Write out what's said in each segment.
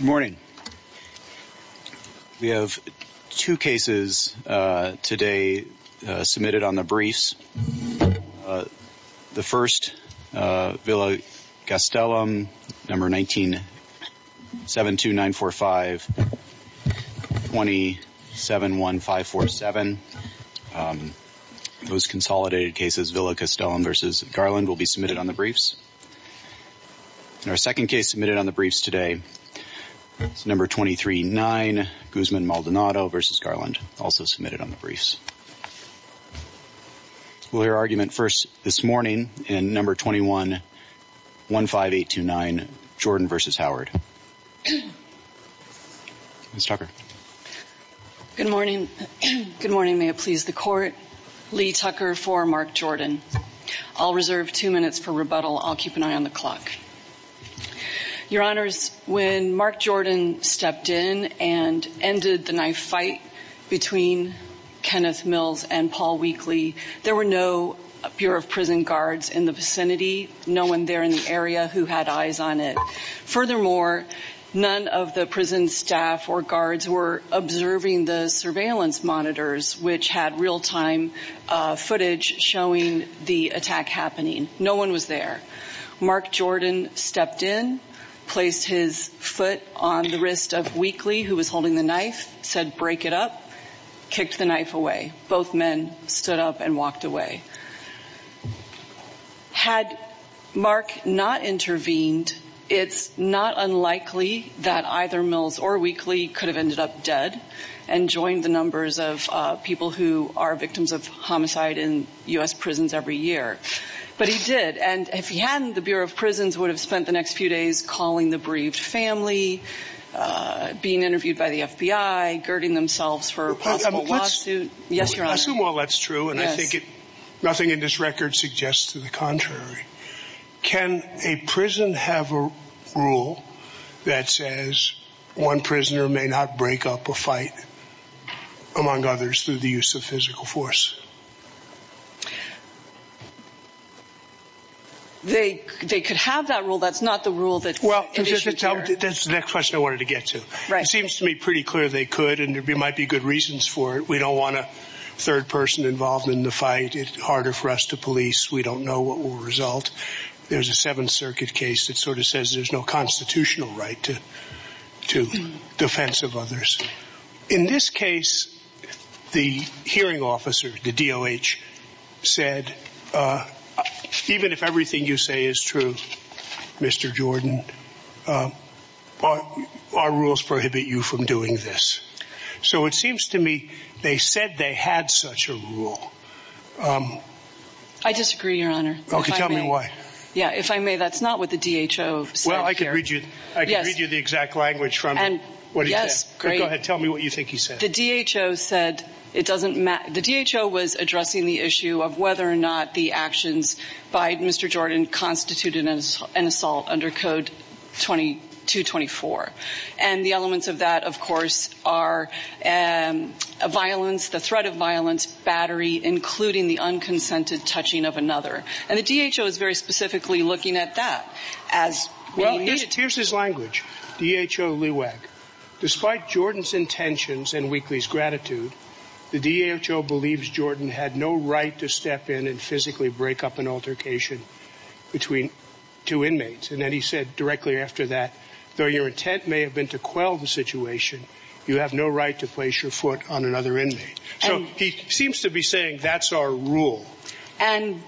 morning we have two cases today submitted on the briefs the first Villa Castellum number 19 7 2 9 4 5 20 7 1 5 4 7 those consolidated cases Villa Castellum versus Garland will be submitted on the briefs in our second case submitted on the briefs today it's number 23 9 Guzman Maldonado versus Garland also submitted on the briefs we'll hear argument first this morning in number 21 1 5 8 2 9 Jordan versus Howard miss Tucker good morning good morning may it please the court Lee Tucker for Mark Jordan I'll reserve two minutes for rebuttal I'll keep an eye on the clock your honors when Mark Jordan stepped in and ended the knife fight between Kenneth Mills and Paul Weakley there were no Bureau of Prison guards in the vicinity no one there in the area who had eyes on it furthermore none of the prison staff or guards were observing the surveillance monitors which had real-time footage showing the attack happening no one was there Mark Jordan stepped in placed his foot on the wrist of weekly who was holding the knife said break it up kicked the knife away both men stood up and walked away had Mark not intervened it's not unlikely that either Mills or weekly could have people who are victims of homicide in US prisons every year but he did and if he hadn't the Bureau of Prisons would have spent the next few days calling the briefed family being interviewed by the FBI girding themselves for possible lawsuit yes your honor assume all that's true and I think it nothing in this record suggests to the contrary can a prison have a rule that says one the use of physical force they could have that rule that's not the rule that well that's the next question I wanted to get to right seems to me pretty clear they could and there might be good reasons for it we don't want a third person involved in the fight it harder for us to police we don't know what will result there's a Seventh Circuit case that sort of says there's no the DOH said even if everything you say is true mr. Jordan our rules prohibit you from doing this so it seems to me they said they had such a rule I disagree your honor okay tell me why yeah if I may that's not what the DHO well I can read you I can read you the exact language from and what yes great tell me what you think he said it doesn't matter the DHO was addressing the issue of whether or not the actions by mr. Jordan constituted as an assault under code 2224 and the elements of that of course are a violence the threat of violence battery including the unconsented touching of another and the DHO is very specifically looking at that as well here's his language DHO leeweg despite Jordan's intentions and weeklies gratitude the DHO believes Jordan had no right to step in and physically break up an altercation between two inmates and then he said directly after that though your intent may have been to quell the situation you have no right to place your foot on another inmate so he seems to be saying that's our rule and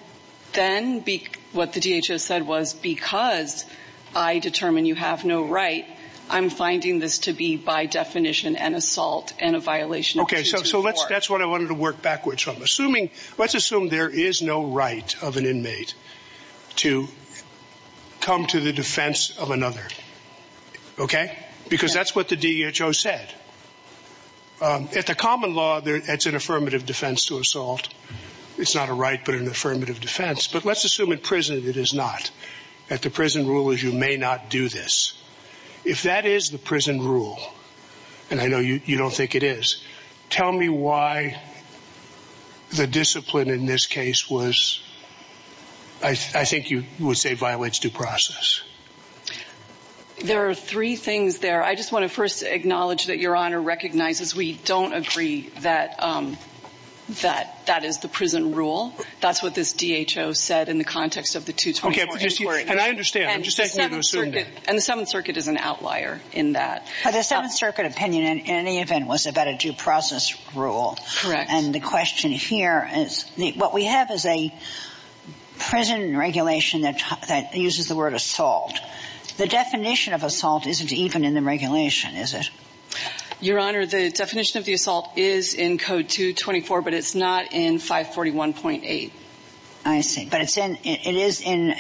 then be what the said was because I determine you have no right I'm finding this to be by definition and assault and a violation okay so so let's that's what I wanted to work backwards from assuming let's assume there is no right of an inmate to come to the defense of another okay because that's what the DHO said at the common law there it's an affirmative defense to assault it's not a right but an at the prison rule as you may not do this if that is the prison rule and I know you don't think it is tell me why the discipline in this case was I think you would say violates due process there are three things there I just want to first acknowledge that your honor recognizes we don't agree that that that is the prison rule that's what this DHO said in the context of the 224 and I understand and the 7th Circuit is an outlier in that but the 7th Circuit opinion in any event was about a due process rule correct and the question here is what we have is a prison regulation that uses the word assault the definition of assault isn't even in the regulation is it your honor the definition of the assault is in code 224 but it's not in 541.8 I see but it's in it is in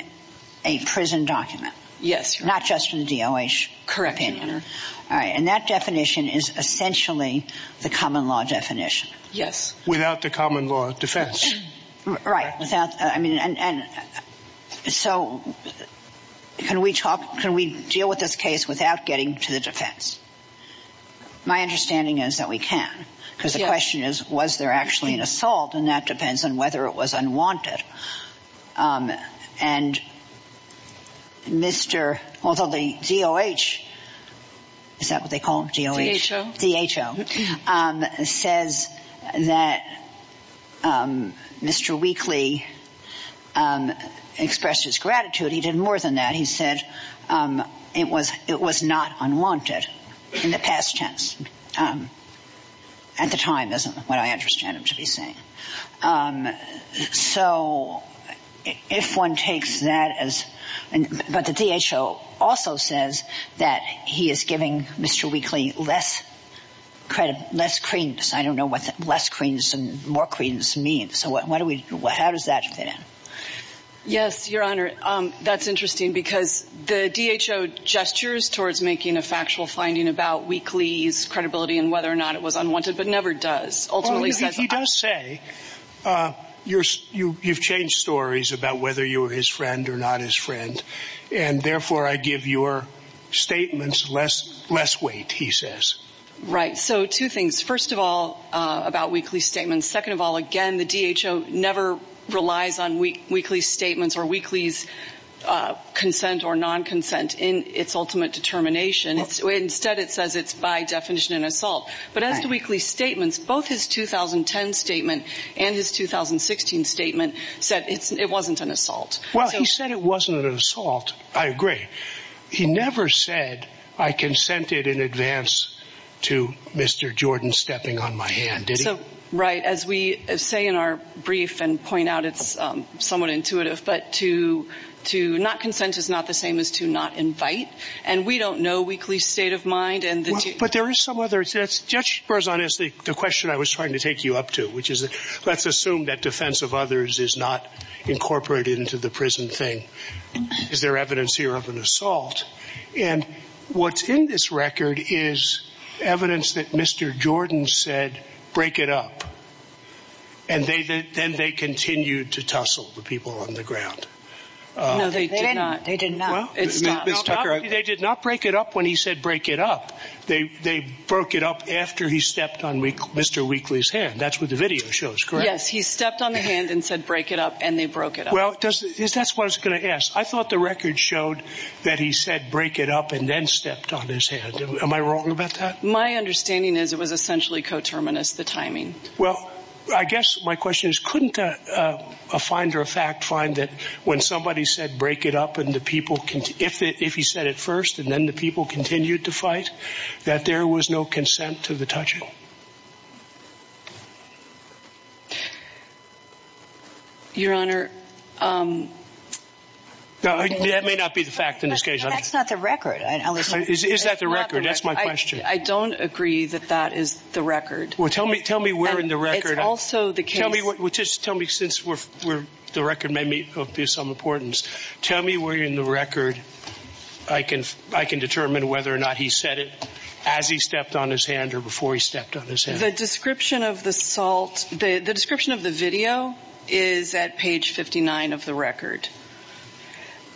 a prison document yes not just in the DOH correct and that definition is essentially the common law definition yes without the common law defense right without I mean and so can we talk can we deal with this case without getting to the defense my understanding is that we can because the question is was there actually an assault and that depends on whether it was unwanted and Mr. although the DOH is that what they call it DHO DHO says that Mr. Wheatley expressed his gratitude he did more than that he said it was it was not unwanted in the past tense at the time isn't what I understand him to be saying so if one takes that as and but the DHO also says that he is giving Mr. Wheatley less credit less credence I don't know what less credence and more credence means so what do we do how does that fit in yes your honor that's interesting because the DHO gestures towards making a factual finding about weekly's credibility and whether or not it was unwanted but never does ultimately he does say you're you you've changed stories about whether you were his friend or not his friend and therefore I give your statements less less weight he says right so two things first of all about weekly statements second of all again the DHO never relies on week statements or weeklies consent or non-consent in its ultimate determination it's instead it says it's by definition an assault but as the weekly statements both his 2010 statement and his 2016 statement said it's it wasn't an assault well he said it wasn't an assault I agree he never said I consented in advance to mr. Jordan stepping on my hand did so right as we say in our brief and point out it's somewhat intuitive but to to not consent is not the same as to not invite and we don't know weekly state of mind and but there is some others that's just person is the question I was trying to take you up to which is let's assume that defense of others is not incorporated into the prison thing is there evidence here of an assault and what's in this record is evidence that mr. Jordan said break it up and they then they continued to tussle the people on the ground they did not they did not break it up when he said break it up they they broke it up after he stepped on week mr. weekly's hand that's what the video shows yes he stepped on the hand and said break it up and they broke it well does this that's what I was gonna ask I thought the record showed that he said break it up and then stepped on his hand am I wrong about that my understanding is it was essentially coterminous the timing well I guess my question is couldn't a finder of fact find that when somebody said break it up and the people can if it if he said it first and then the people continued to fight that there was no consent to the touching your honor no that may not be the fact in this case that's not the record is that the record that's my question I don't agree that that is the record well tell me tell me we're in the record also the kill me what would just tell me since we're we're the record may be of some importance tell me where you're in the record I can I can determine whether or not he said it as he stepped on his hand or before he stepped on this is a description of the salt the description of the video is at page 59 of the record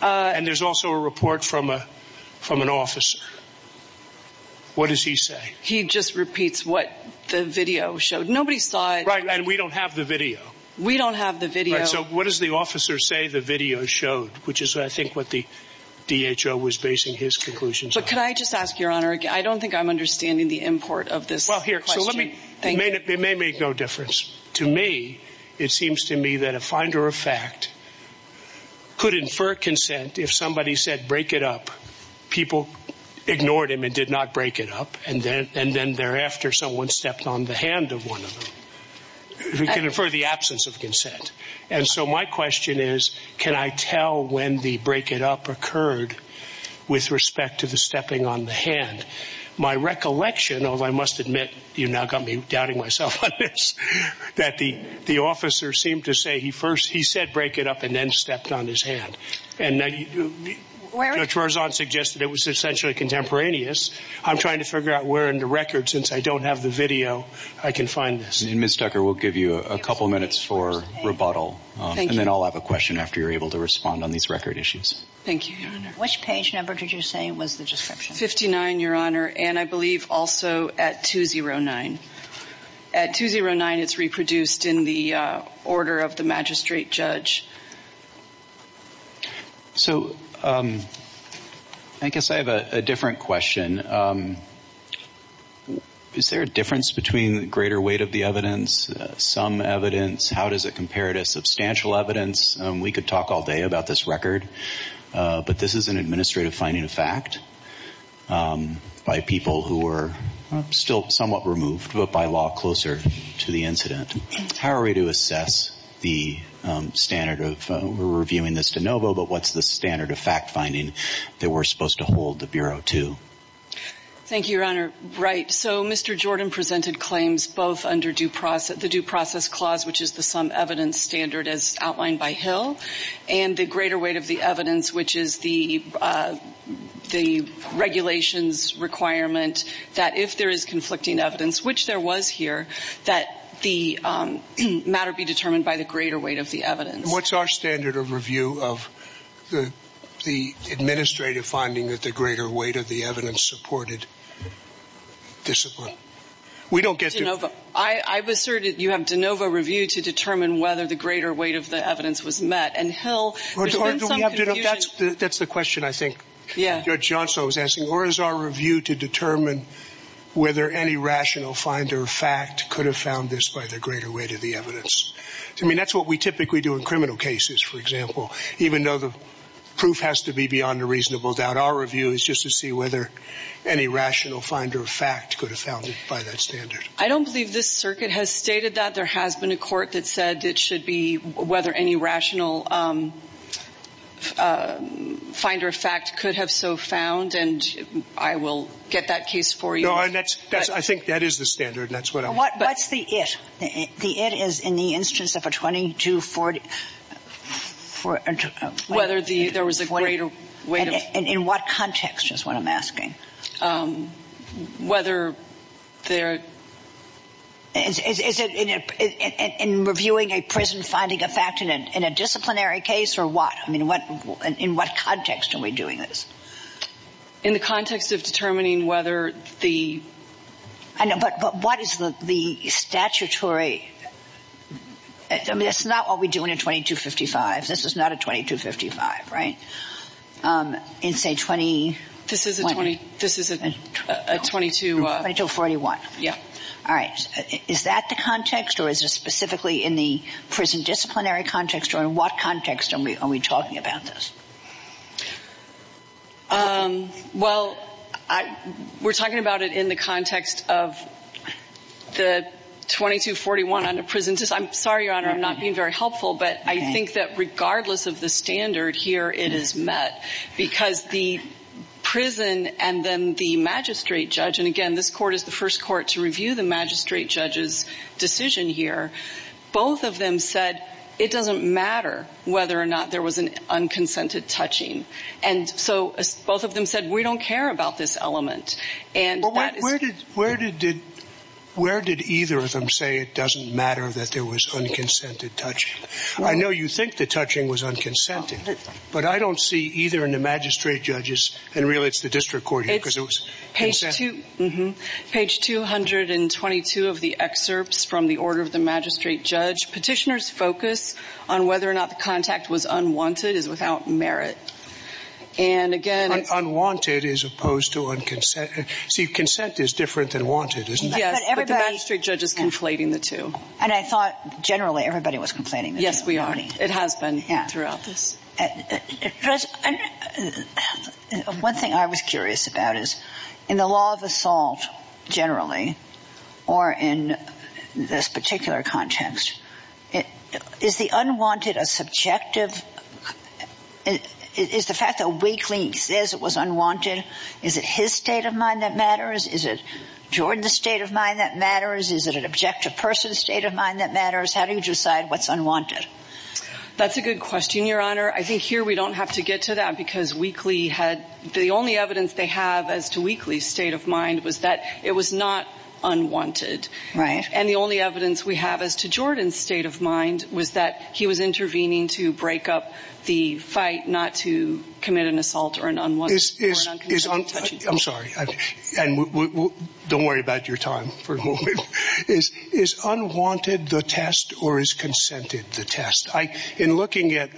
and there's also a report from a from an officer what does he say he just repeats what the video showed nobody saw it right and we don't have the video we don't have the video so what is the officer say the video showed which is I think what the DHL was basing his conclusions but can I just ask your honor I don't think I'm understanding the import of this well here so let me think they may make no difference to me it seems to me that a finder of fact could infer consent if somebody said break it up people ignored him and did not break it up and then and then thereafter someone stepped on the hand of one of them who can infer the absence of consent and so my question is can I tell when the break it up occurred with respect to the stepping on the hand my recollection although I must admit you now got me doubting myself that the the officer seemed to say he first he said break it up and then stepped on his hand and suggested it was essentially contemporaneous I'm trying to figure out where in the record since I don't have the video I can find this and miss Tucker will give you a couple minutes for rebuttal and then I'll have a question after you're able to respond on these record issues thank you which page number did you say it was the description 59 your honor and I believe also at 209 at 209 it's reproduced in the order of the magistrate judge so I guess I have a different question is there a difference between greater weight of the evidence some evidence how does it compare to substantial evidence we could talk all day about this record but this is an administrative finding of fact by people who were still somewhat removed but by law closer to the incident how are we to assess the standard of reviewing this de novo but what's the standard of fact-finding that we're supposed to hold the Bureau to thank you your honor right so mr. Jordan presented claims both under due process the due process clause which is the sum evidence standard as outlined by Hill and the greater weight of the evidence which is the the regulations requirement that if there is conflicting evidence which there was here that the matter be determined by the greater weight of the evidence what's our standard of review of the the administrative finding that the greater weight of the evidence supported discipline we don't get to know but I was certain you have de novo review to determine whether the greater weight of the evidence was met and Hill that's the that's the question I think yeah judge Johnso is asking or is our review to determine whether any rational finder of fact could have found this by the greater weight of the evidence I mean that's what we typically do in criminal cases for example even though the proof has to be beyond a reasonable doubt our review is just to see whether any rational finder of fact could have found it by that standard I don't believe this circuit has stated that there has been a court that said it should be whether any rational finder of fact could have so found and I will get that case for you and that's that's I think that is the standard that's what I'm what what's the it the it is in the instance of a 20 to 40 for whether the there was a greater weight in what context is what I'm asking whether there is it in it in reviewing a prison finding a fact in it in a disciplinary case or what I mean what in what context are we doing this in the context of whether the I know but but what is the the statutory I mean it's not what we do in a 2255 this is not a 2255 right in say 20 this is a 20 this isn't a 22 2241 yeah all right is that the context or is it specifically in the prison disciplinary context or in what context are we are we talking about this well I we're talking about it in the context of the 2241 under prison just I'm sorry your honor I'm not being very helpful but I think that regardless of the standard here it is met because the prison and then the magistrate judge and again this court is the first court to review the magistrate judge's decision here both of them said it doesn't matter whether or not there was an and where did where did did where did either of them say it doesn't matter that there was unconsented touching I know you think the touching was unconsented but I don't see either in the magistrate judges and really it's the district court it was page 2 mm-hmm page 222 of the excerpts from the order of the magistrate judge petitioners focus on whether or not the contact was see consent is different than wanted isn't the magistrate judge is conflating the two and I thought generally everybody was complaining yes we are it has been yeah throughout this one thing I was curious about is in the law of assault generally or in this particular context it is the unwanted a is it his state of mind that matters is it Jordan the state of mind that matters is it an objective person state of mind that matters how do you decide what's unwanted that's a good question your honor I think here we don't have to get to that because weekly had the only evidence they have as to weekly state of mind was that it was not unwanted right and the only evidence we have as to Jordan's state of mind was that he was intervening to break up the fight not to I'm sorry and don't worry about your time for a moment is is unwanted the test or is consented the test I in looking at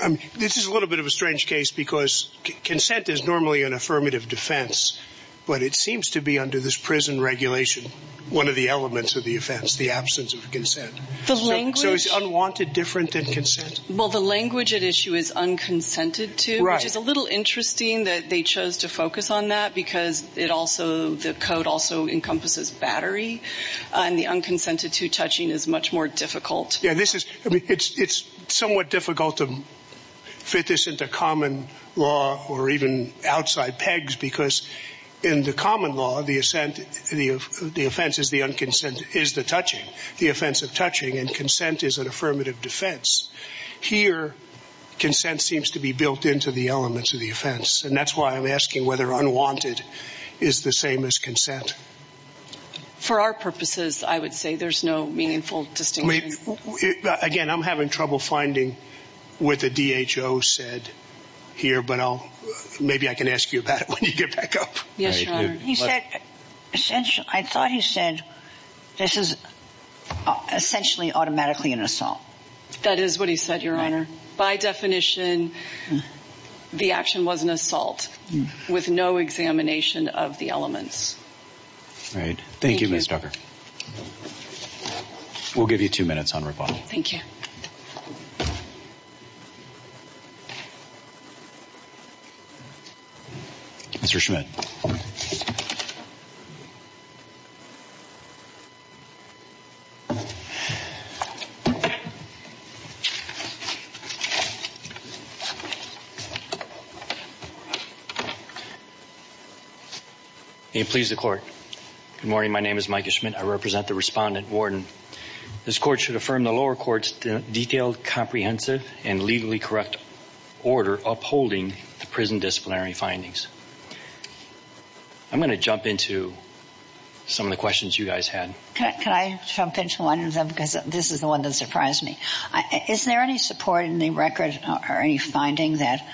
I mean this is a little bit of a strange case because consent is normally an affirmative defense but it seems to be under this prison regulation one of the elements of the offense the absence of consent the language unwanted different than consent well the language at issue is unconsented to which is a little interesting that they chose to focus on that because it also the code also encompasses battery and the unconsented to touching is much more difficult yeah this is I mean it's it's somewhat difficult to fit this into common law or even outside pegs because in the common law the assent the the offense is the unconsent is the touching the offense of consent seems to be built into the elements of the offense and that's why I'm asking whether unwanted is the same as consent. For our purposes I would say there's no meaningful distinctly. Again I'm having trouble finding with the D.H.O. said here but I'll maybe I can ask you about it when you get back up. Yes he said essentially I thought he said this is essentially automatically an assault. That is what he said your honor by definition the action was an assault with no examination of the elements. All right thank you Ms. Ducker. We'll give you two minutes on rebuttal. Thank you. Mr. Schmidt. May it please the court. Good morning my name is Mike Schmidt I represent the respondent warden. This court should affirm the lower courts detailed comprehensive and legally correct order upholding the prison disciplinary findings. I'm going to jump into some of the questions you guys had. Can I jump into one of them because this is the one that surprised me. Is there any support in the record or any finding that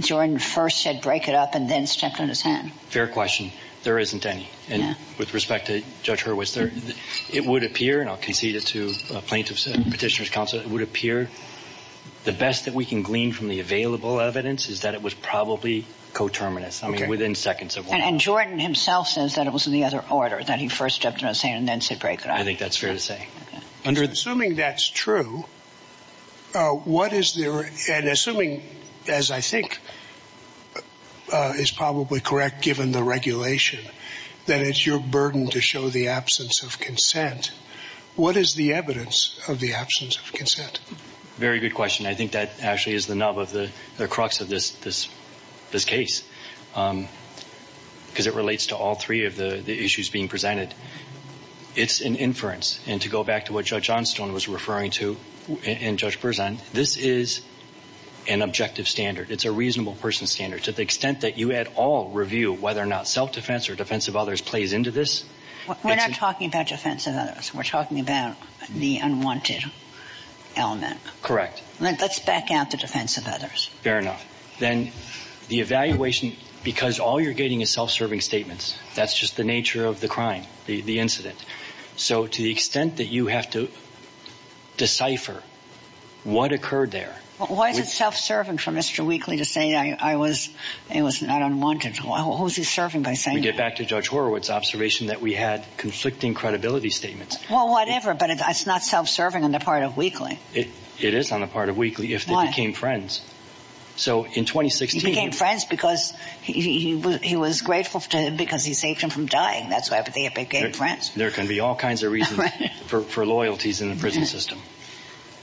Jordan first said break it up and then stepped on his hand? Fair question there isn't any and with respect to Judge Hurwitz there it would appear and I'll concede it to plaintiffs and petitioners counsel it would appear the best that we can glean from the available evidence is that it was probably coterminous. I mean within seconds. And Jordan himself says that it was in the other order that he first stepped on his hand and then said break it up. I think that's fair to say. Assuming that's true what is there and assuming as I think is probably correct given the regulation that it's your burden to show the absence of consent what is the evidence of the absence of consent? Very good question I think that actually is the nub of the the crux of this this this case because it relates to all three of the the issues being presented it's an inference and to go back to what Judge Johnstone was referring to and Judge Berzon this is an objective standard it's a reasonable person standard to the extent that you at all review whether or not self-defense or defense of others plays into this. We're not talking about defense of others we're talking about the unwanted element. Correct. Let's back out the defense of others. Fair enough then the evaluation because all you're getting is self-serving statements that's just the nature of the crime the incident so to the extent that you have to decipher what occurred there. Why is it self-serving for Mr. Wheatley to say I was it was not unwanted who's he serving by saying? We get back to Judge Horowitz observation that we had conflicting credibility statements. Well whatever but it's not self-serving on the part of Wheatley. It is on the part of Wheatley if they became friends. So in 2016. He became friends because he was grateful to him because he saved him from dying that's why but they became friends. There can be all kinds of reasons for loyalties in the prison system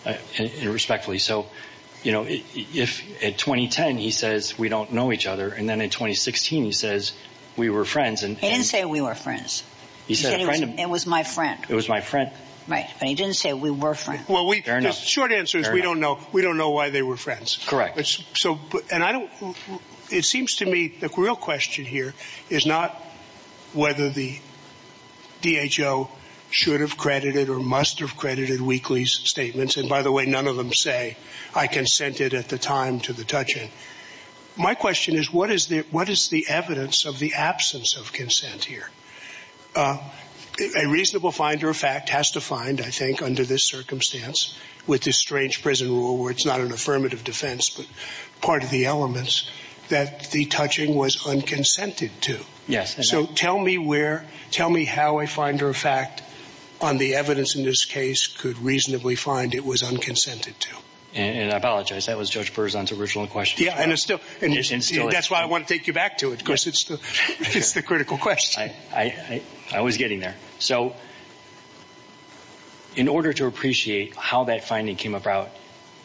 and respectfully so you know if at 2010 he says we don't know each other and then in 2016 he says we were friends. He didn't say we were friends. He said it was my friend. It was my friend. Right but he didn't say we were friends. Short answer is we don't know. We don't know why they were friends. Correct. So and I don't it seems to me the real question here is not whether the DHO should have credited or must have credited Wheatley's statements and by the way none of them say I consented at the time to the touch-in. My question is what is the what is the evidence of the absence of consent here? A reasonable finder of fact has to find I think under this circumstance with this strange prison rule where it's not an affirmative defense but part of the elements that the touching was unconsented to. Yes. So tell me where tell me how a finder of fact on the evidence in this case could reasonably find it was unconsented to. And I apologize that was Judge Berzon's original question. Yeah and it's still and that's why I want to take you back to it because it's the critical question. I was getting there. So in order to appreciate how that finding came about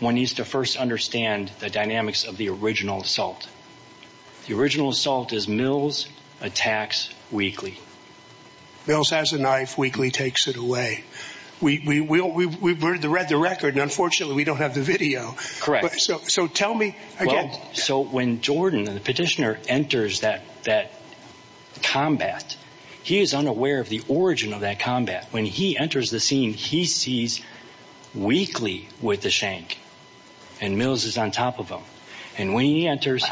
one needs to first understand the dynamics of the original assault. The original assault is Mills attacks Wheatley. Mills has a knife Wheatley takes it away. We read the record and unfortunately we don't have the video. Correct. So tell me. So when Jordan the petitioner enters that that combat he is unaware of the origin of that combat. When he enters the scene he sees Wheatley with the shank and Mills is on top of him. And when he enters.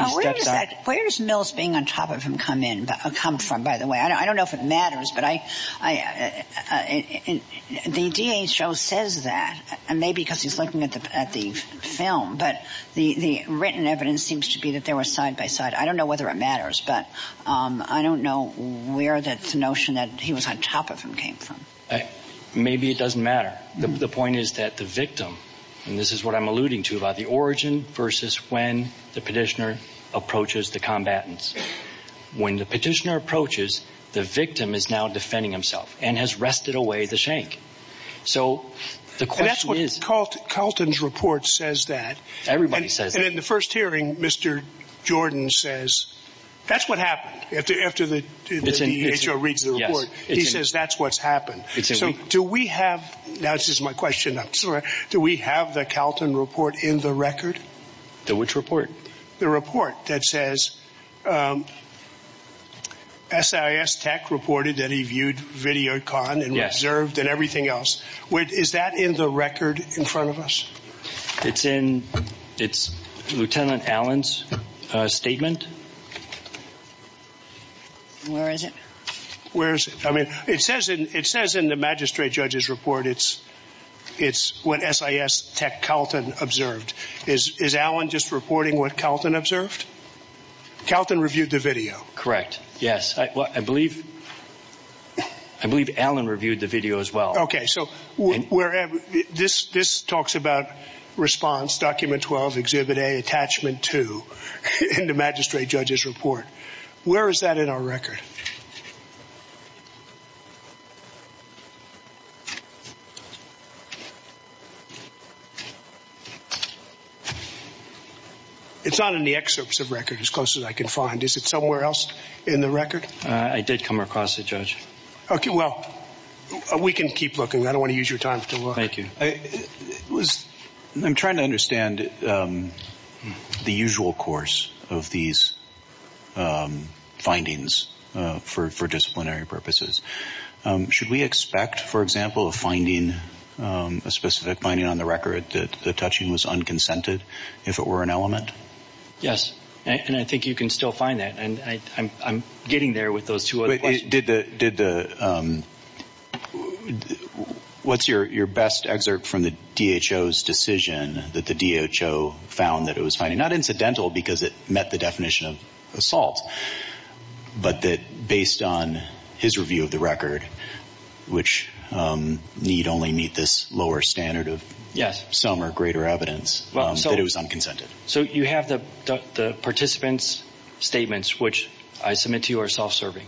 Where's Mills being on top of him come in come from by the way I don't know if it matters but I I the DA show says that and maybe because he's looking at the at the film but the the written evidence seems to be that they were side by side. I don't know whether it matters but I don't know where that's the notion that he was on top of him came from. Maybe it doesn't matter. The point is that the victim and this is what I'm alluding to about the origin versus when the petitioner approaches the combatants. When the petitioner approaches the victim is now defending himself and has rested away the shank. So that's what Colton Colton's report says that everybody says in the first hearing. Mr. Jordan says. That's what happened after after the decision to reach the court. He says that's what's happened. So do we have that is my question. Do we have the Calton report in the record. The which report. The report that says. SIS tech reported that he viewed video con and reserved and everything else. What is that in the record in front of us. It's in. It's Lieutenant Allen's statement. Where is it. Where's it I mean it says and it says in the magistrate judge's report it's. It's what S.I.S. tech Calton observed is is Alan just reporting what Calton observed. Calton reviewed the video correct. Yes I believe. I believe Alan reviewed the video as well. Okay so. Wherever. This this talks about. Response document twelve exhibit a attachment to. The magistrate judge's report. Where is that in our record. It's not in the excerpts of record as close as I can find is it somewhere else. In the record. I did come across a judge. Okay well. We can keep looking I don't want to use your time thank you. It was. I'm trying to understand. The usual course of these. Findings for for disciplinary purposes. Should we expect for example finding. A specific finding on the record that touching was unconsented. If it were an element. Yes and I think you can still find that and I'm I'm getting there with those two it did the did the. What's your your best excerpt from the D.H.O.'s decision that the D.H.O. found that it was funny not incidental because it met the definition of assault. But that based on his review of the record. Which need only meet this lower standard of yes some are greater evidence well so it was unconsented so you have the the participants. Statements which I submit to are self-serving.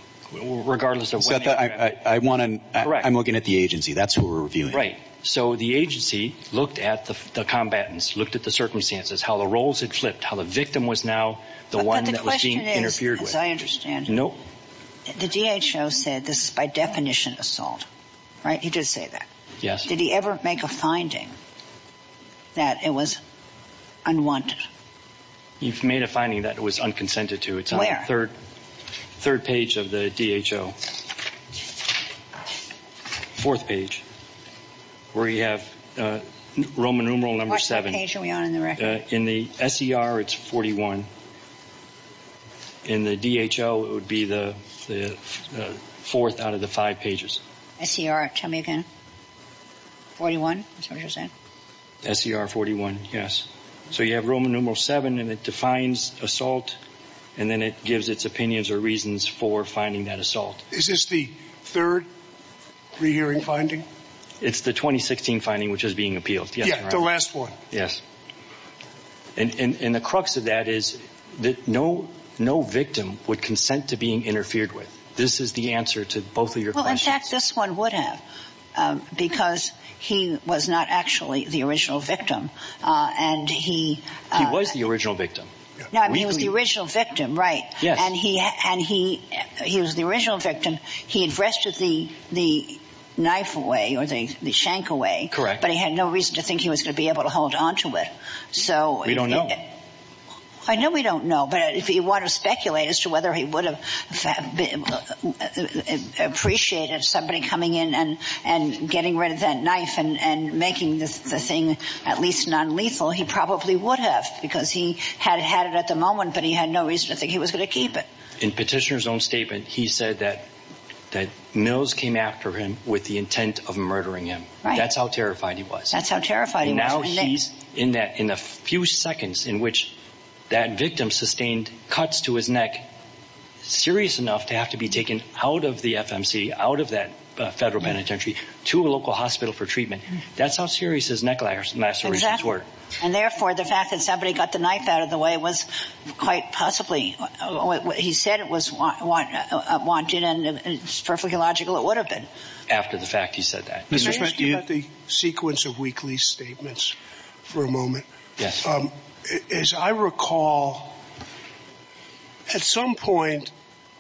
Regardless of that I I I want and I'm looking at the agency that's we're doing right so the agency looked at the combatants looked at the circumstances how the roles it flipped how the victim was now. The one question is as I understand nope. The D.H.O. said this by definition assault. Right you just say that yes did he ever make a finding. That it was. I want. You've made a finding that was unconsented to it's a third. Third page of the D.H.O. Fourth page. We have. Roman numeral number seven. In the S.E.R. it's 41. In the D.H.O. would be the. The fourth out of the five pages. S.E.R. tell me again. 41 percent. S.E.R. 41 yes. So you have Roman numeral seven and it defines assault. And then it gives its opinions or reasons for finding that assault. Is this the third. Rehearing finding. It's the 2016 finding which is being appealed yet the last four yes. And in in the crux of that is that no no victim would consent to being interfered with this is the answer to both of your well in fact this one would have. Because he was not actually the original victim. And he. Was the original victim. Now he was the original victim right. And he had and he. He was the original victim. He addressed it the the knife away or the the shank away correct but he had no reason to think he was to be able to hold onto it. So we don't know. I know we don't know but if you want to speculate as to whether he would have. Appreciated somebody coming in and and getting rid of that knife and and making this thing at least non-lethal he probably would have because he had had at the moment but he had no reason to think he was gonna keep it. In petitioners own statement he said that. That Mills came after him with the intent of murdering him. That's how terrified he was that's how terrified you know he's in that in a few seconds in which. That victim sustained cuts to his neck. Serious enough to have to be taken out of the FMC out of that federal penitentiary to a local hospital for treatment. That's how serious his neck lacerations were. And therefore the fact that somebody got the knife out of the way was quite possibly what he said it was what I want you to know it's perfectly logical it would have been. After the fact he said that. The sequence of weekly statements. For a moment. As I recall. At some point.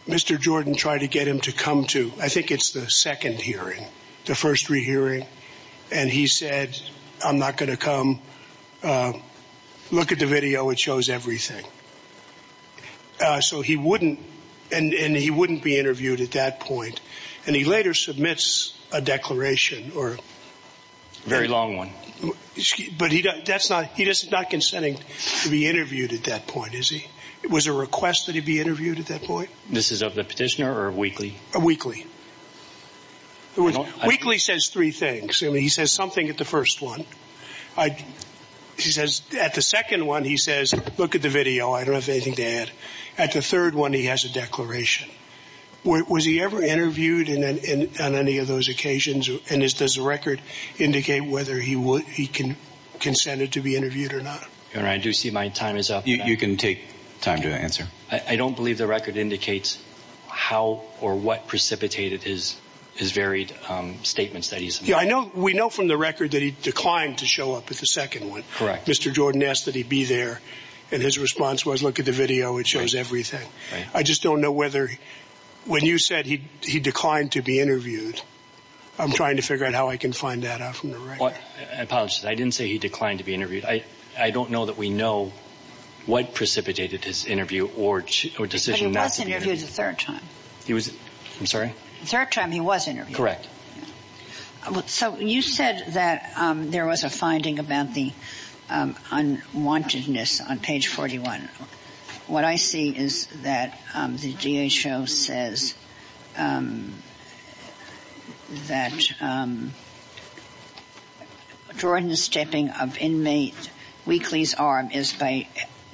Mr. Jordan tried to get him to come to I think it's the second hearing. The first three hearing. And he said I'm not going to come. Look at the video which shows everything. So he wouldn't and he wouldn't be interviewed at that point. And he later submits a declaration or. Very long one. But he doesn't that's not he does not consenting to be interviewed at that point is he it was a request to be interviewed at that point this is of the petitioner or weekly weekly. Weekly says three things and he says something at the first one. I. He says at the second one he says look at the video I don't have anything to add. At the third one he has a declaration. What was he ever interviewed in and in and any of those occasions and is this record indicate whether he would he can. Consented to be interviewed or not. And I do see my time is up you can take time to answer I don't believe the record indicates. How or what precipitated his. His varied. Statements that he's here I know we know from the record that he declined to show up at the second one correct Mr. Jordan asked that he be there. And his response was look at the video which shows everything. I just don't know whether. When you said he he declined to be interviewed. I'm trying to figure out how I can find that out from the right. Apologize I didn't say he declined to be interviewed I I don't know that we know. What precipitated his interview or two or decision was interviewed a third time. He was. I'm sorry. Third time he was interviewed correct. So you said that there was a finding about the. On wantedness on page forty one. What I see is that the D.H.O. says. That. Jordan stepping up in May weeklies arm is by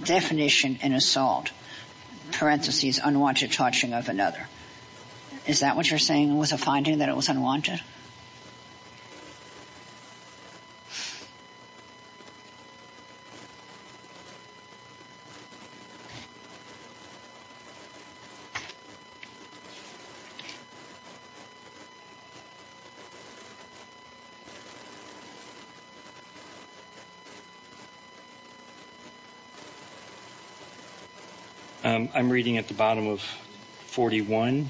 definition an assault. Parentheses unwanted touching of another. Is that what you're saying was a finding that it was unwanted. I'm reading at the bottom of. Forty one.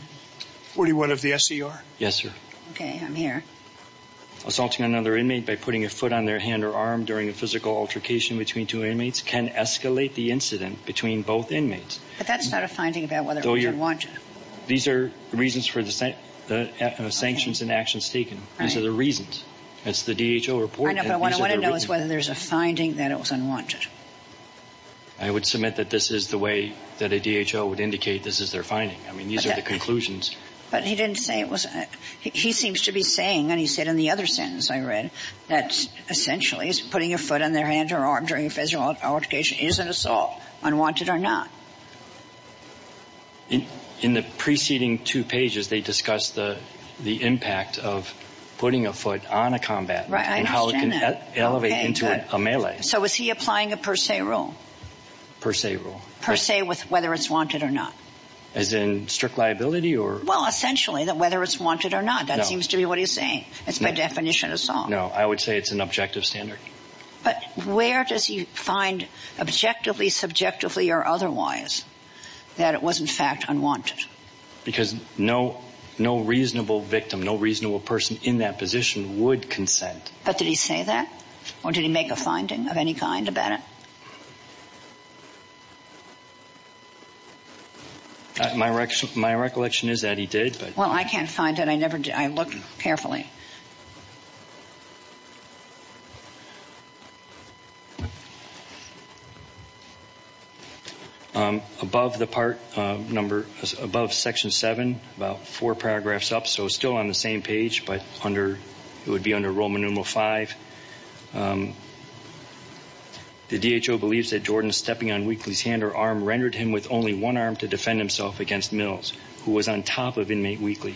Forty one of the S.E.R. Yes sir. Okay I'm here. Assaulting another inmate by putting a foot on their hand or arm during a physical altercation between two inmates can escalate the incident between both inmates. But that's not a finding about whether or not you want to. These are reasons for the same. The actions and actions taken. These are the reasons. That's the D.H.O. report and I want to know is whether there's a finding that it was unwanted. I would submit that this is the way that a D.H.O. would indicate this is their finding. I mean these are the conclusions. But he didn't say it was. He seems to be saying and he said in the other sentence I read. That's essentially is putting a foot on their hand or arm during a physical altercation is an assault. On wanted or not. In the preceding two pages they discussed the. The impact of. Putting a foot on a combat right I know how it can elevate into a melee so was he applying a per se rule. Per se rule per se with whether it's wanted or not. As in strict liability or well essentially that whether it's wanted or not that seems to be what he's saying it's my definition of song no I would say it's an objective standard. But where does he find objectively subjectively or otherwise. That it was in fact unwanted. Because no no reasonable victim no reasonable person in that position would consent but did he say that. Or did he make a finding of any kind about. My wrecked my recollection is that he did well I can't find and I never did I look carefully. Above the part number as above section seven about four paragraphs up so still on the same page but under would be a Roman numeral five. The D.H.O. Believes that Jordan stepping on weekly's hand or arm rendered him with only one arm to defend himself against mills who was on top of inmate weekly.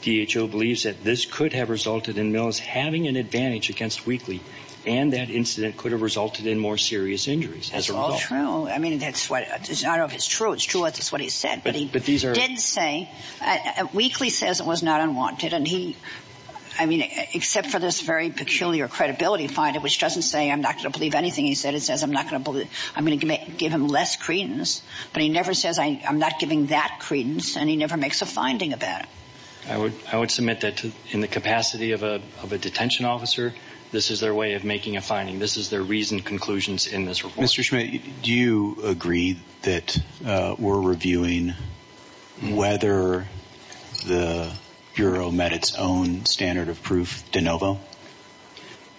D.H.O. Believes that this could have resulted in mills having an advantage against weekly. And that incident could have resulted in more serious injuries as well true I mean that's what it is not of his troops to us is what he said but he but these are insane. And weekly says it was not unwanted and he. I mean except for this very peculiar credibility find it which doesn't say I'm not to believe anything he said it says I'm not gonna believe I'm gonna give him less credence. But he never says I'm not giving that credence and he never makes a finding of that. I would I would submit that to in the capacity of a of a detention officer. This is their way of making a finding this is their reason conclusions in this report. Do you agree that. We're reviewing. Whether. The. Bureau met its own standard of proof de novo.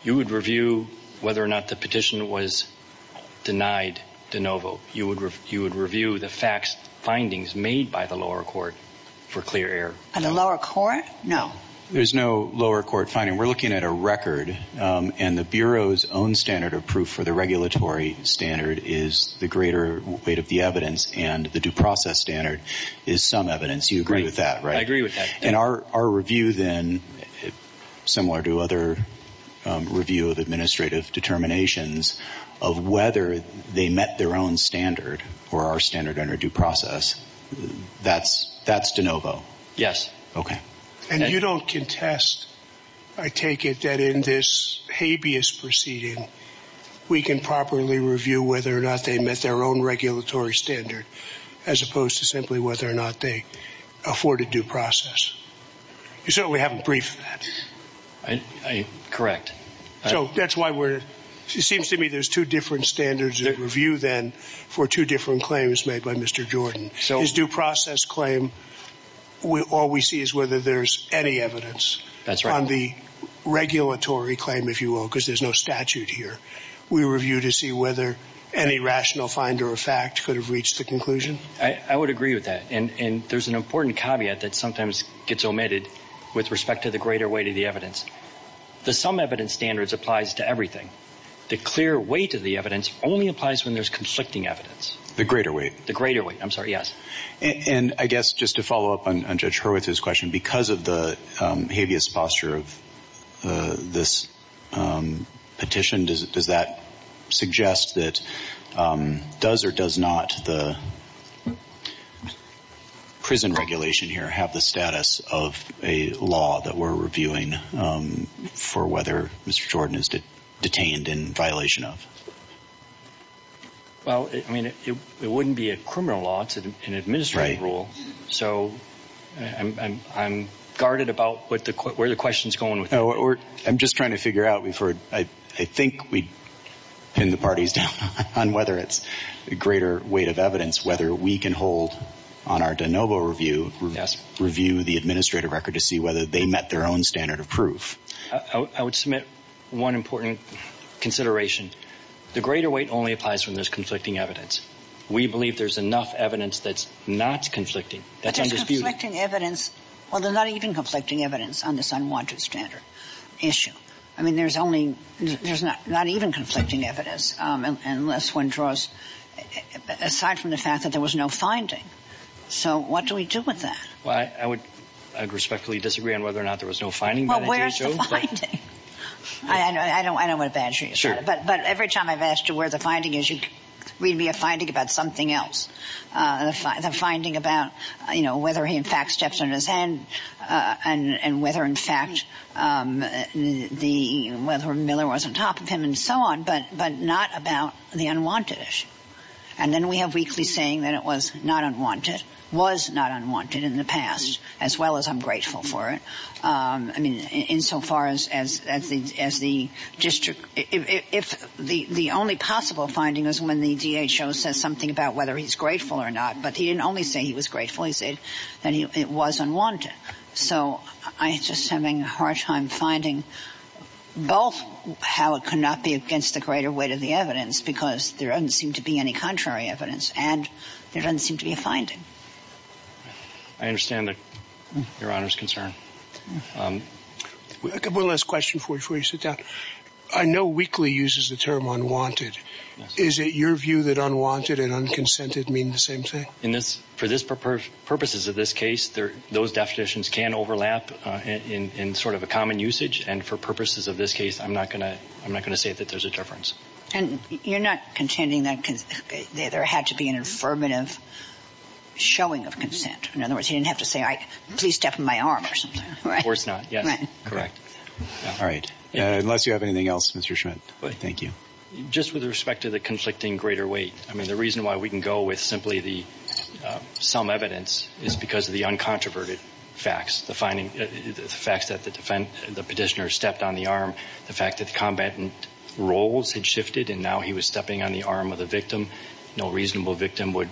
You would review whether or not the petition was. Denied de novo you would you would review the facts findings made by the lower court. For clear air and the lower court now there's no lower court finding we're looking at a record and the bureau's own standard of proof for the regulatory standard is the greater weight of the evidence and the due process standard. Is some evidence you agree with that in our our review then. Similar to other. Review of administrative determinations. Of whether they met their own standard for our standard under due process. That's that's de novo. Yes okay. And you don't contest. I take it that in this habeas proceeding. We can properly review whether or not they met their own regulatory standard. As opposed to simply whether or not they. Afforded due process. So we haven't briefed. I I correct. So that's why we're she seems to me there's two different standards that review then for two different claims made by Mr. Jordan shows due process claim. We all we see is whether there's any evidence that's run the regulatory claim if you will because there's no statute here. We review to see whether any rational finder of fact could have reached the conclusion I I agree with that and and there's an important caveat that sometimes gets omitted. With respect to the greater weight of the evidence. The some evidence standards applies to everything. The clear weight of the evidence only applies when there's conflicting evidence the greater weight the greater weight I'm sorry yes. And I guess just to follow up on and Richard with his question because of the habeas posture. This. Petition does it does that. Suggest that. Does or does not the. Prison regulation here have the status of a law that we're reviewing. For whether Mr. Jordan is that detained in violation of. Well I mean if you it wouldn't be a criminal law to an administrative rule. So. I'm I'm I'm guarded about what the court where the questions going to work I'm just trying to figure out we've heard I think we. In the parties. On whether it's a greater weight of evidence whether we can hold. On our de novo review yes review the administrative record to see whether they met their own standard of proof. I would I would submit. One important. Consideration. The greater weight only applies when there's conflicting evidence. We believe there's enough evidence that's not conflicting that's disputing evidence. Well they're not even conflicting evidence on this unwanted standard. Issue. I mean there's only. There's not not even conflicting evidence. Unless one draws. Aside from the fact that there was no finding. So what do we do with that. I would. I respectfully disagree on whether or not there was no finding well where. I don't I don't I don't imagine sure but but every time I've asked you where the finding is you. Read me a finding about something else. I find the finding about you know whether he in fact steps in his hand. And and whether in fact. The weather Miller was on top of him and so on but but not about the unwanted. And then we have weekly saying that it was not unwanted. Was not unwanted in the past as well as I'm grateful for it. I mean in so far as as the as the district if the the only possible finding is when the D.H.O. says something about whether he's grateful or not but he didn't only say he was grateful he said. And he it was unwanted. So I just having a hard time finding. Both how it could not be against the greater weight of the evidence because there doesn't seem to be any contrary evidence and there doesn't seem to be a finding. I understand that. Your honor's concern. We'll ask question for free sit down. I know weekly uses the term unwanted. Is it your view that unwanted and unconsented mean the same thing in this for this purpose purposes of this case there those definitions can overlap in in sort of a common usage and for purposes of this case I'm not going to I'm not going to say that there's a difference. And you're not contending that there had to be an affirmative. Showing of consent in other words you have to say I please step in my arms. Or it's not correct. All you have anything else. But thank you. Just with respect to the conflicting greater weight. I mean the reason why we can go with simply the. Some evidence is because the uncontroverted. Facts the finding. The fact that the defend the petitioner stepped on the arm. The fact that combatant. Roles and shifted and now he was stepping on the arm of the victim. No reasonable victim would.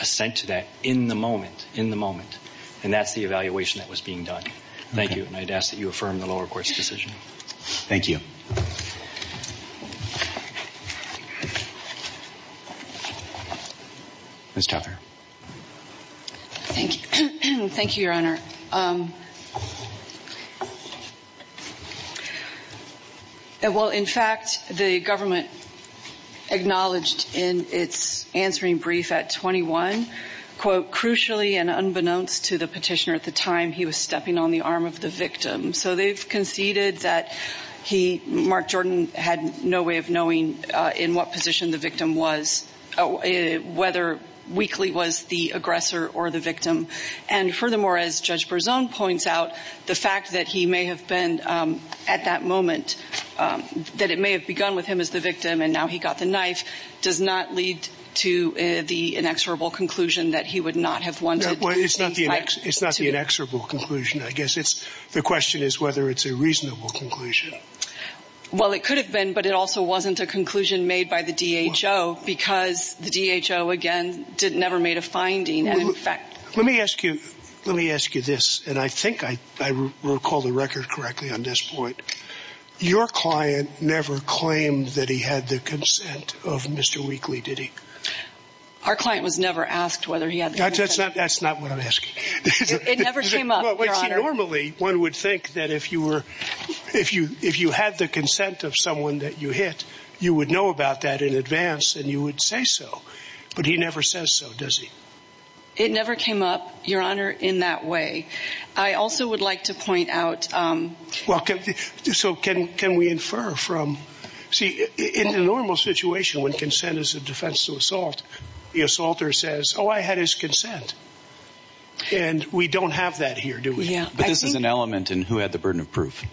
Assent to that in the moment in the moment. And that's the evaluation that was being done. Thank you and I'd ask you affirm the lower court's decision. Thank you. Thank you your honor. Well in fact the government. Acknowledged in its answering brief at twenty one quote crucially and unbeknownst to the petitioner at the time he was stepping on the victim so they've conceded that. He Mark Jordan had no way of knowing in what position the victim was. Whether weekly was the aggressor or the victim. And furthermore as judge for zone points out. The fact that he may have been. At that moment. That it may have begun with him as the victim and now he got the knife. Does not lead. To the inexorable conclusion that he would not have won. It's not the next it's not the question is whether it's a reasonable conclusion. Well it could have been but it also wasn't a conclusion made by the D.H.O. because the D.H.O. again didn't never made a finding and in fact let me ask you. Let me ask you this and I think I. I recall the record correctly on this point. Your client never claimed that he had the consent of Mr. Weekly did he. Our client was never asked whether he had that's not that's not what I'm asking. It never came up. Normally one would think that if you were. If you if you had the consent of someone that you hit. You would know about that in advance and you would say so. But he never says so does he. It never came up your honor in that way. I also would like to point out. Welcome to this so can can we infer from. See it in a normal situation when consent is a defense to assault. The assaulter says oh I had his consent. And we don't have that here do we. This is an element in who had the burden of proof.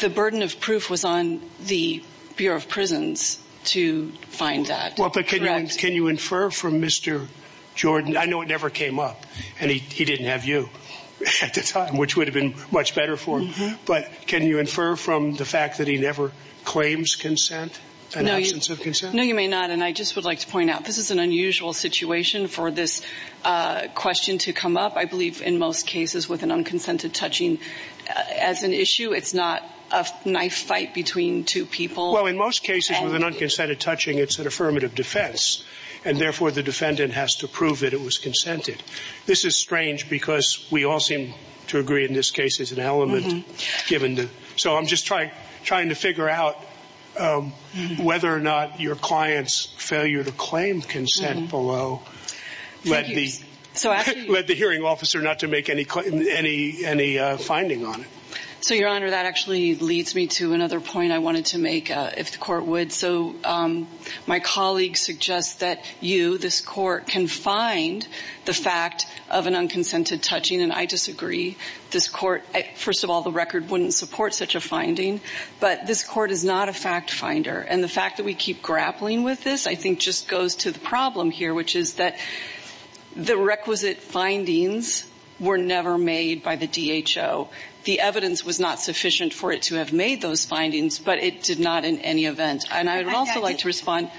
The burden of proof was on the Bureau of Prisons to find that. Well but can you can you infer from Mr. Jordan. I know it never came up and he he didn't have you. At the time which would've been much better for him. But can you infer from the fact that he never claims consent. No you can say no you may not and I just would like to point out this is an unusual situation for this question to come up. I believe in most cases with an unconsented touching. As an issue it's not a knife fight between two people. Well in most cases with an unconsented touching it's an affirmative defense. And therefore the defendant has to prove that it was consented. This is strange because we all seem to agree in this case is an element given. So I'm just trying trying to figure out. Whether or not your client's failure to lead the hearing officer not to make any any any finding on it. So your honor that actually leads me to another point I wanted to make if the court would. So my colleagues suggest that you this court can find the fact of an unconsented touching and I disagree. This court first of all the record wouldn't support such a finding. But this court is not a fact finder and the fact that we keep grappling with this I is that. The requisite findings were never made by the D.H.O. The evidence was not sufficient for it to have made those findings but it did not in any event. And I'd also like to respond.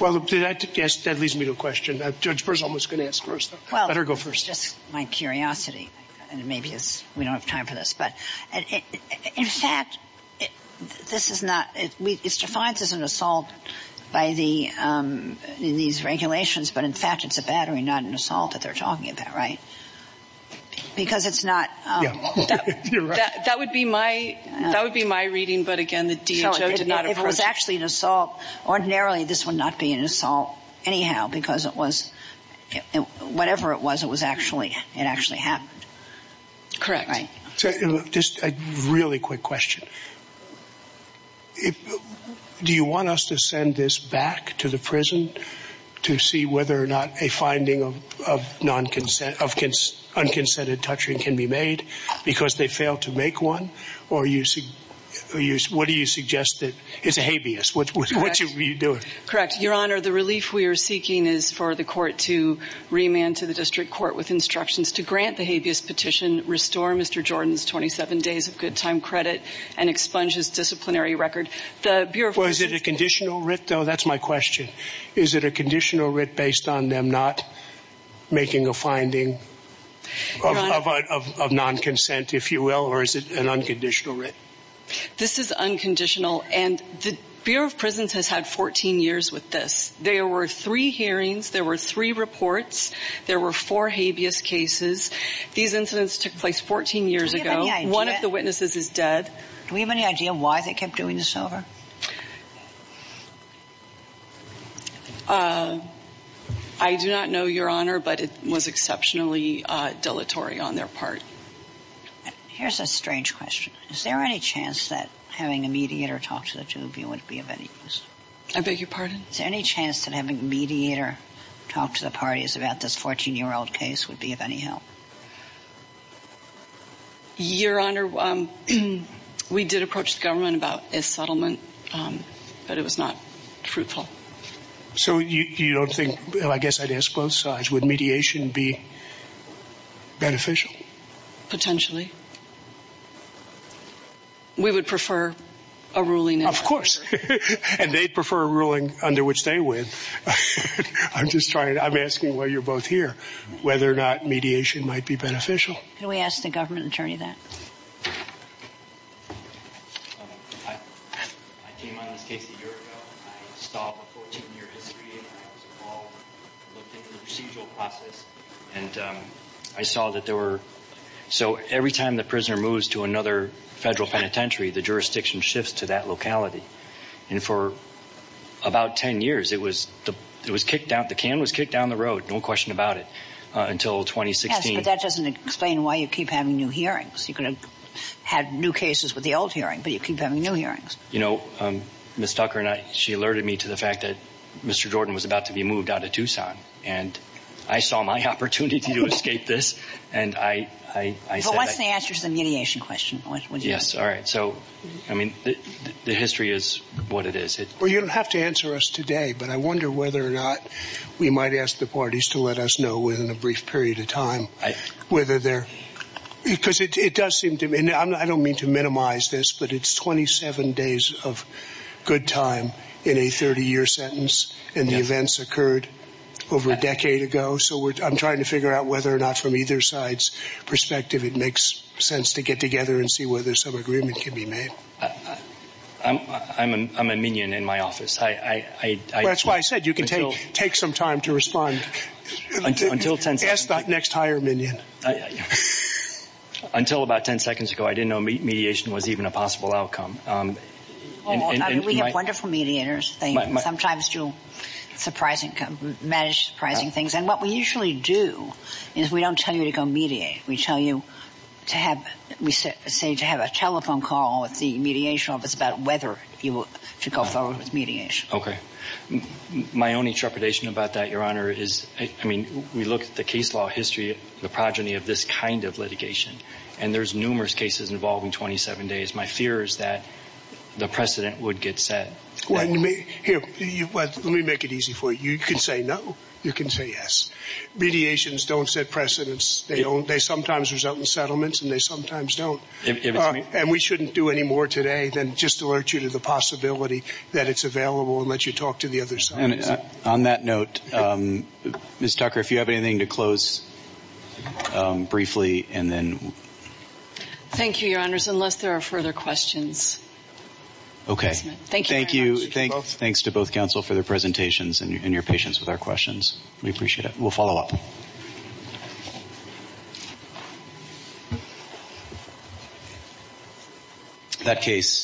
Well that leads me to a question that Judge Burr's almost going to ask first. Let her go first. Well just my curiosity. And maybe it's we don't have time for this but. In fact. This is not. It's defined as an assault. By the. These regulations but in fact it's a battery not an assault that they're talking about right. Because it's not. That would be my that would be my reading but again the D.H.O. did not. It was actually an assault. Ordinarily this would not be an assault. Anyhow because it was. Whatever it was it was actually it actually happened. Correct. Just a really quick question. If. Do you want us to send this back to the prison. To see whether or not a finding of of non-consent of kids unconsented touching can be made. Because they fail to make one. Or you see. Use what do you suggest that it's a habeas which was what you do it correct your honor the relief we are seeking is for the court to. Remand to the district court with instructions to grant the habeas petition restore Mr. Jordan's 27 days of good time credit. And expunge his disciplinary record. The was it a conditional writ though that's my question. Is it a conditional writ based on them not. Making a finding. Of of of of of non-consent if you will or is it an unconditional writ. This is unconditional and the Bureau of Prisons has had 14 years with this. There were three hearings there were three reports. There were four habeas cases. These incidents took place 14 years ago. One of the witnesses is dead. We have any idea why they kept doing this over. I do not know your honor but it was exceptionally dilatory on their part. Here's a strange question is there any chance that having a mediator talk to the two of you would be of any use. I beg your pardon any chance to have a mediator. Talk to the parties about this 14 year old case would be of any help. Your honor. We did approach the government about a settlement. But it was not fruitful. So you you don't think I guess I'd ask both sides would mediation be. Beneficial. Potentially. We would prefer. A ruling of course. And they prefer ruling under which they would. I'm just trying to I'm asking why you're both here. Whether or not mediation might be beneficial. We ask the government attorney that. And I saw that there were. So every time the prisoner moves to another federal penitentiary the jurisdiction shifts to that locality. And for. About 10 years it was the it was kicked out the can was kicked down the road no question about it. Until 2016. That doesn't explain why you keep having new hearings you can. Have new cases with the old hearing but you keep having new hearings you know. Miss Tucker and I she alerted me to the fact that. Mr. Jordan was about to be moved out of Tucson. And. I saw my opportunity to escape this. And I I I said the answer is a mediation question. Yes all right so. I mean. The history is what it is it where you don't have to answer us today but I wonder whether or not. We might ask the parties to let us know within a brief period of time. Whether there. Because it it does seem to me and I don't mean to minimize this but it's 27 days of. Good time in a 30 year sentence and the events occurred. Over a decade ago so which I'm trying to figure out whether or not from either side's. Perspective it makes sense to get together and see whether some agreement can be made. I'm I'm I'm I'm a minion in my office I I I that's why I said you can take take some time to respond. Until until tense that next higher minion. Until about 10 seconds ago I didn't know me mediation was even a possible outcome. And we have wonderful mediators they might sometimes do. Surprising can manage surprising things and what we usually do. Is we don't tell you to go media we tell you. To have we said say to have a telephone call with the mediation office about whether you will go forward with mediation okay. My only trepidation about that your honor is I mean we look at the case law history the progeny of this kind of litigation. And there's numerous cases involving 27 days my fear is that. The precedent would get set. When we hear you but let me make it easy for you can say no you can say yes. Mediations don't set precedence they don't they sometimes result in settlements and they sometimes don't. And we shouldn't do any more today than just alert you to the possibility. That it's available let you talk to the other side. On that note. Miss Tucker if you have anything to close. Briefly and then. Thank you your honor's unless there are further questions. Okay thank you thank thanks to both counsel for their presentations and your patience with our questions. We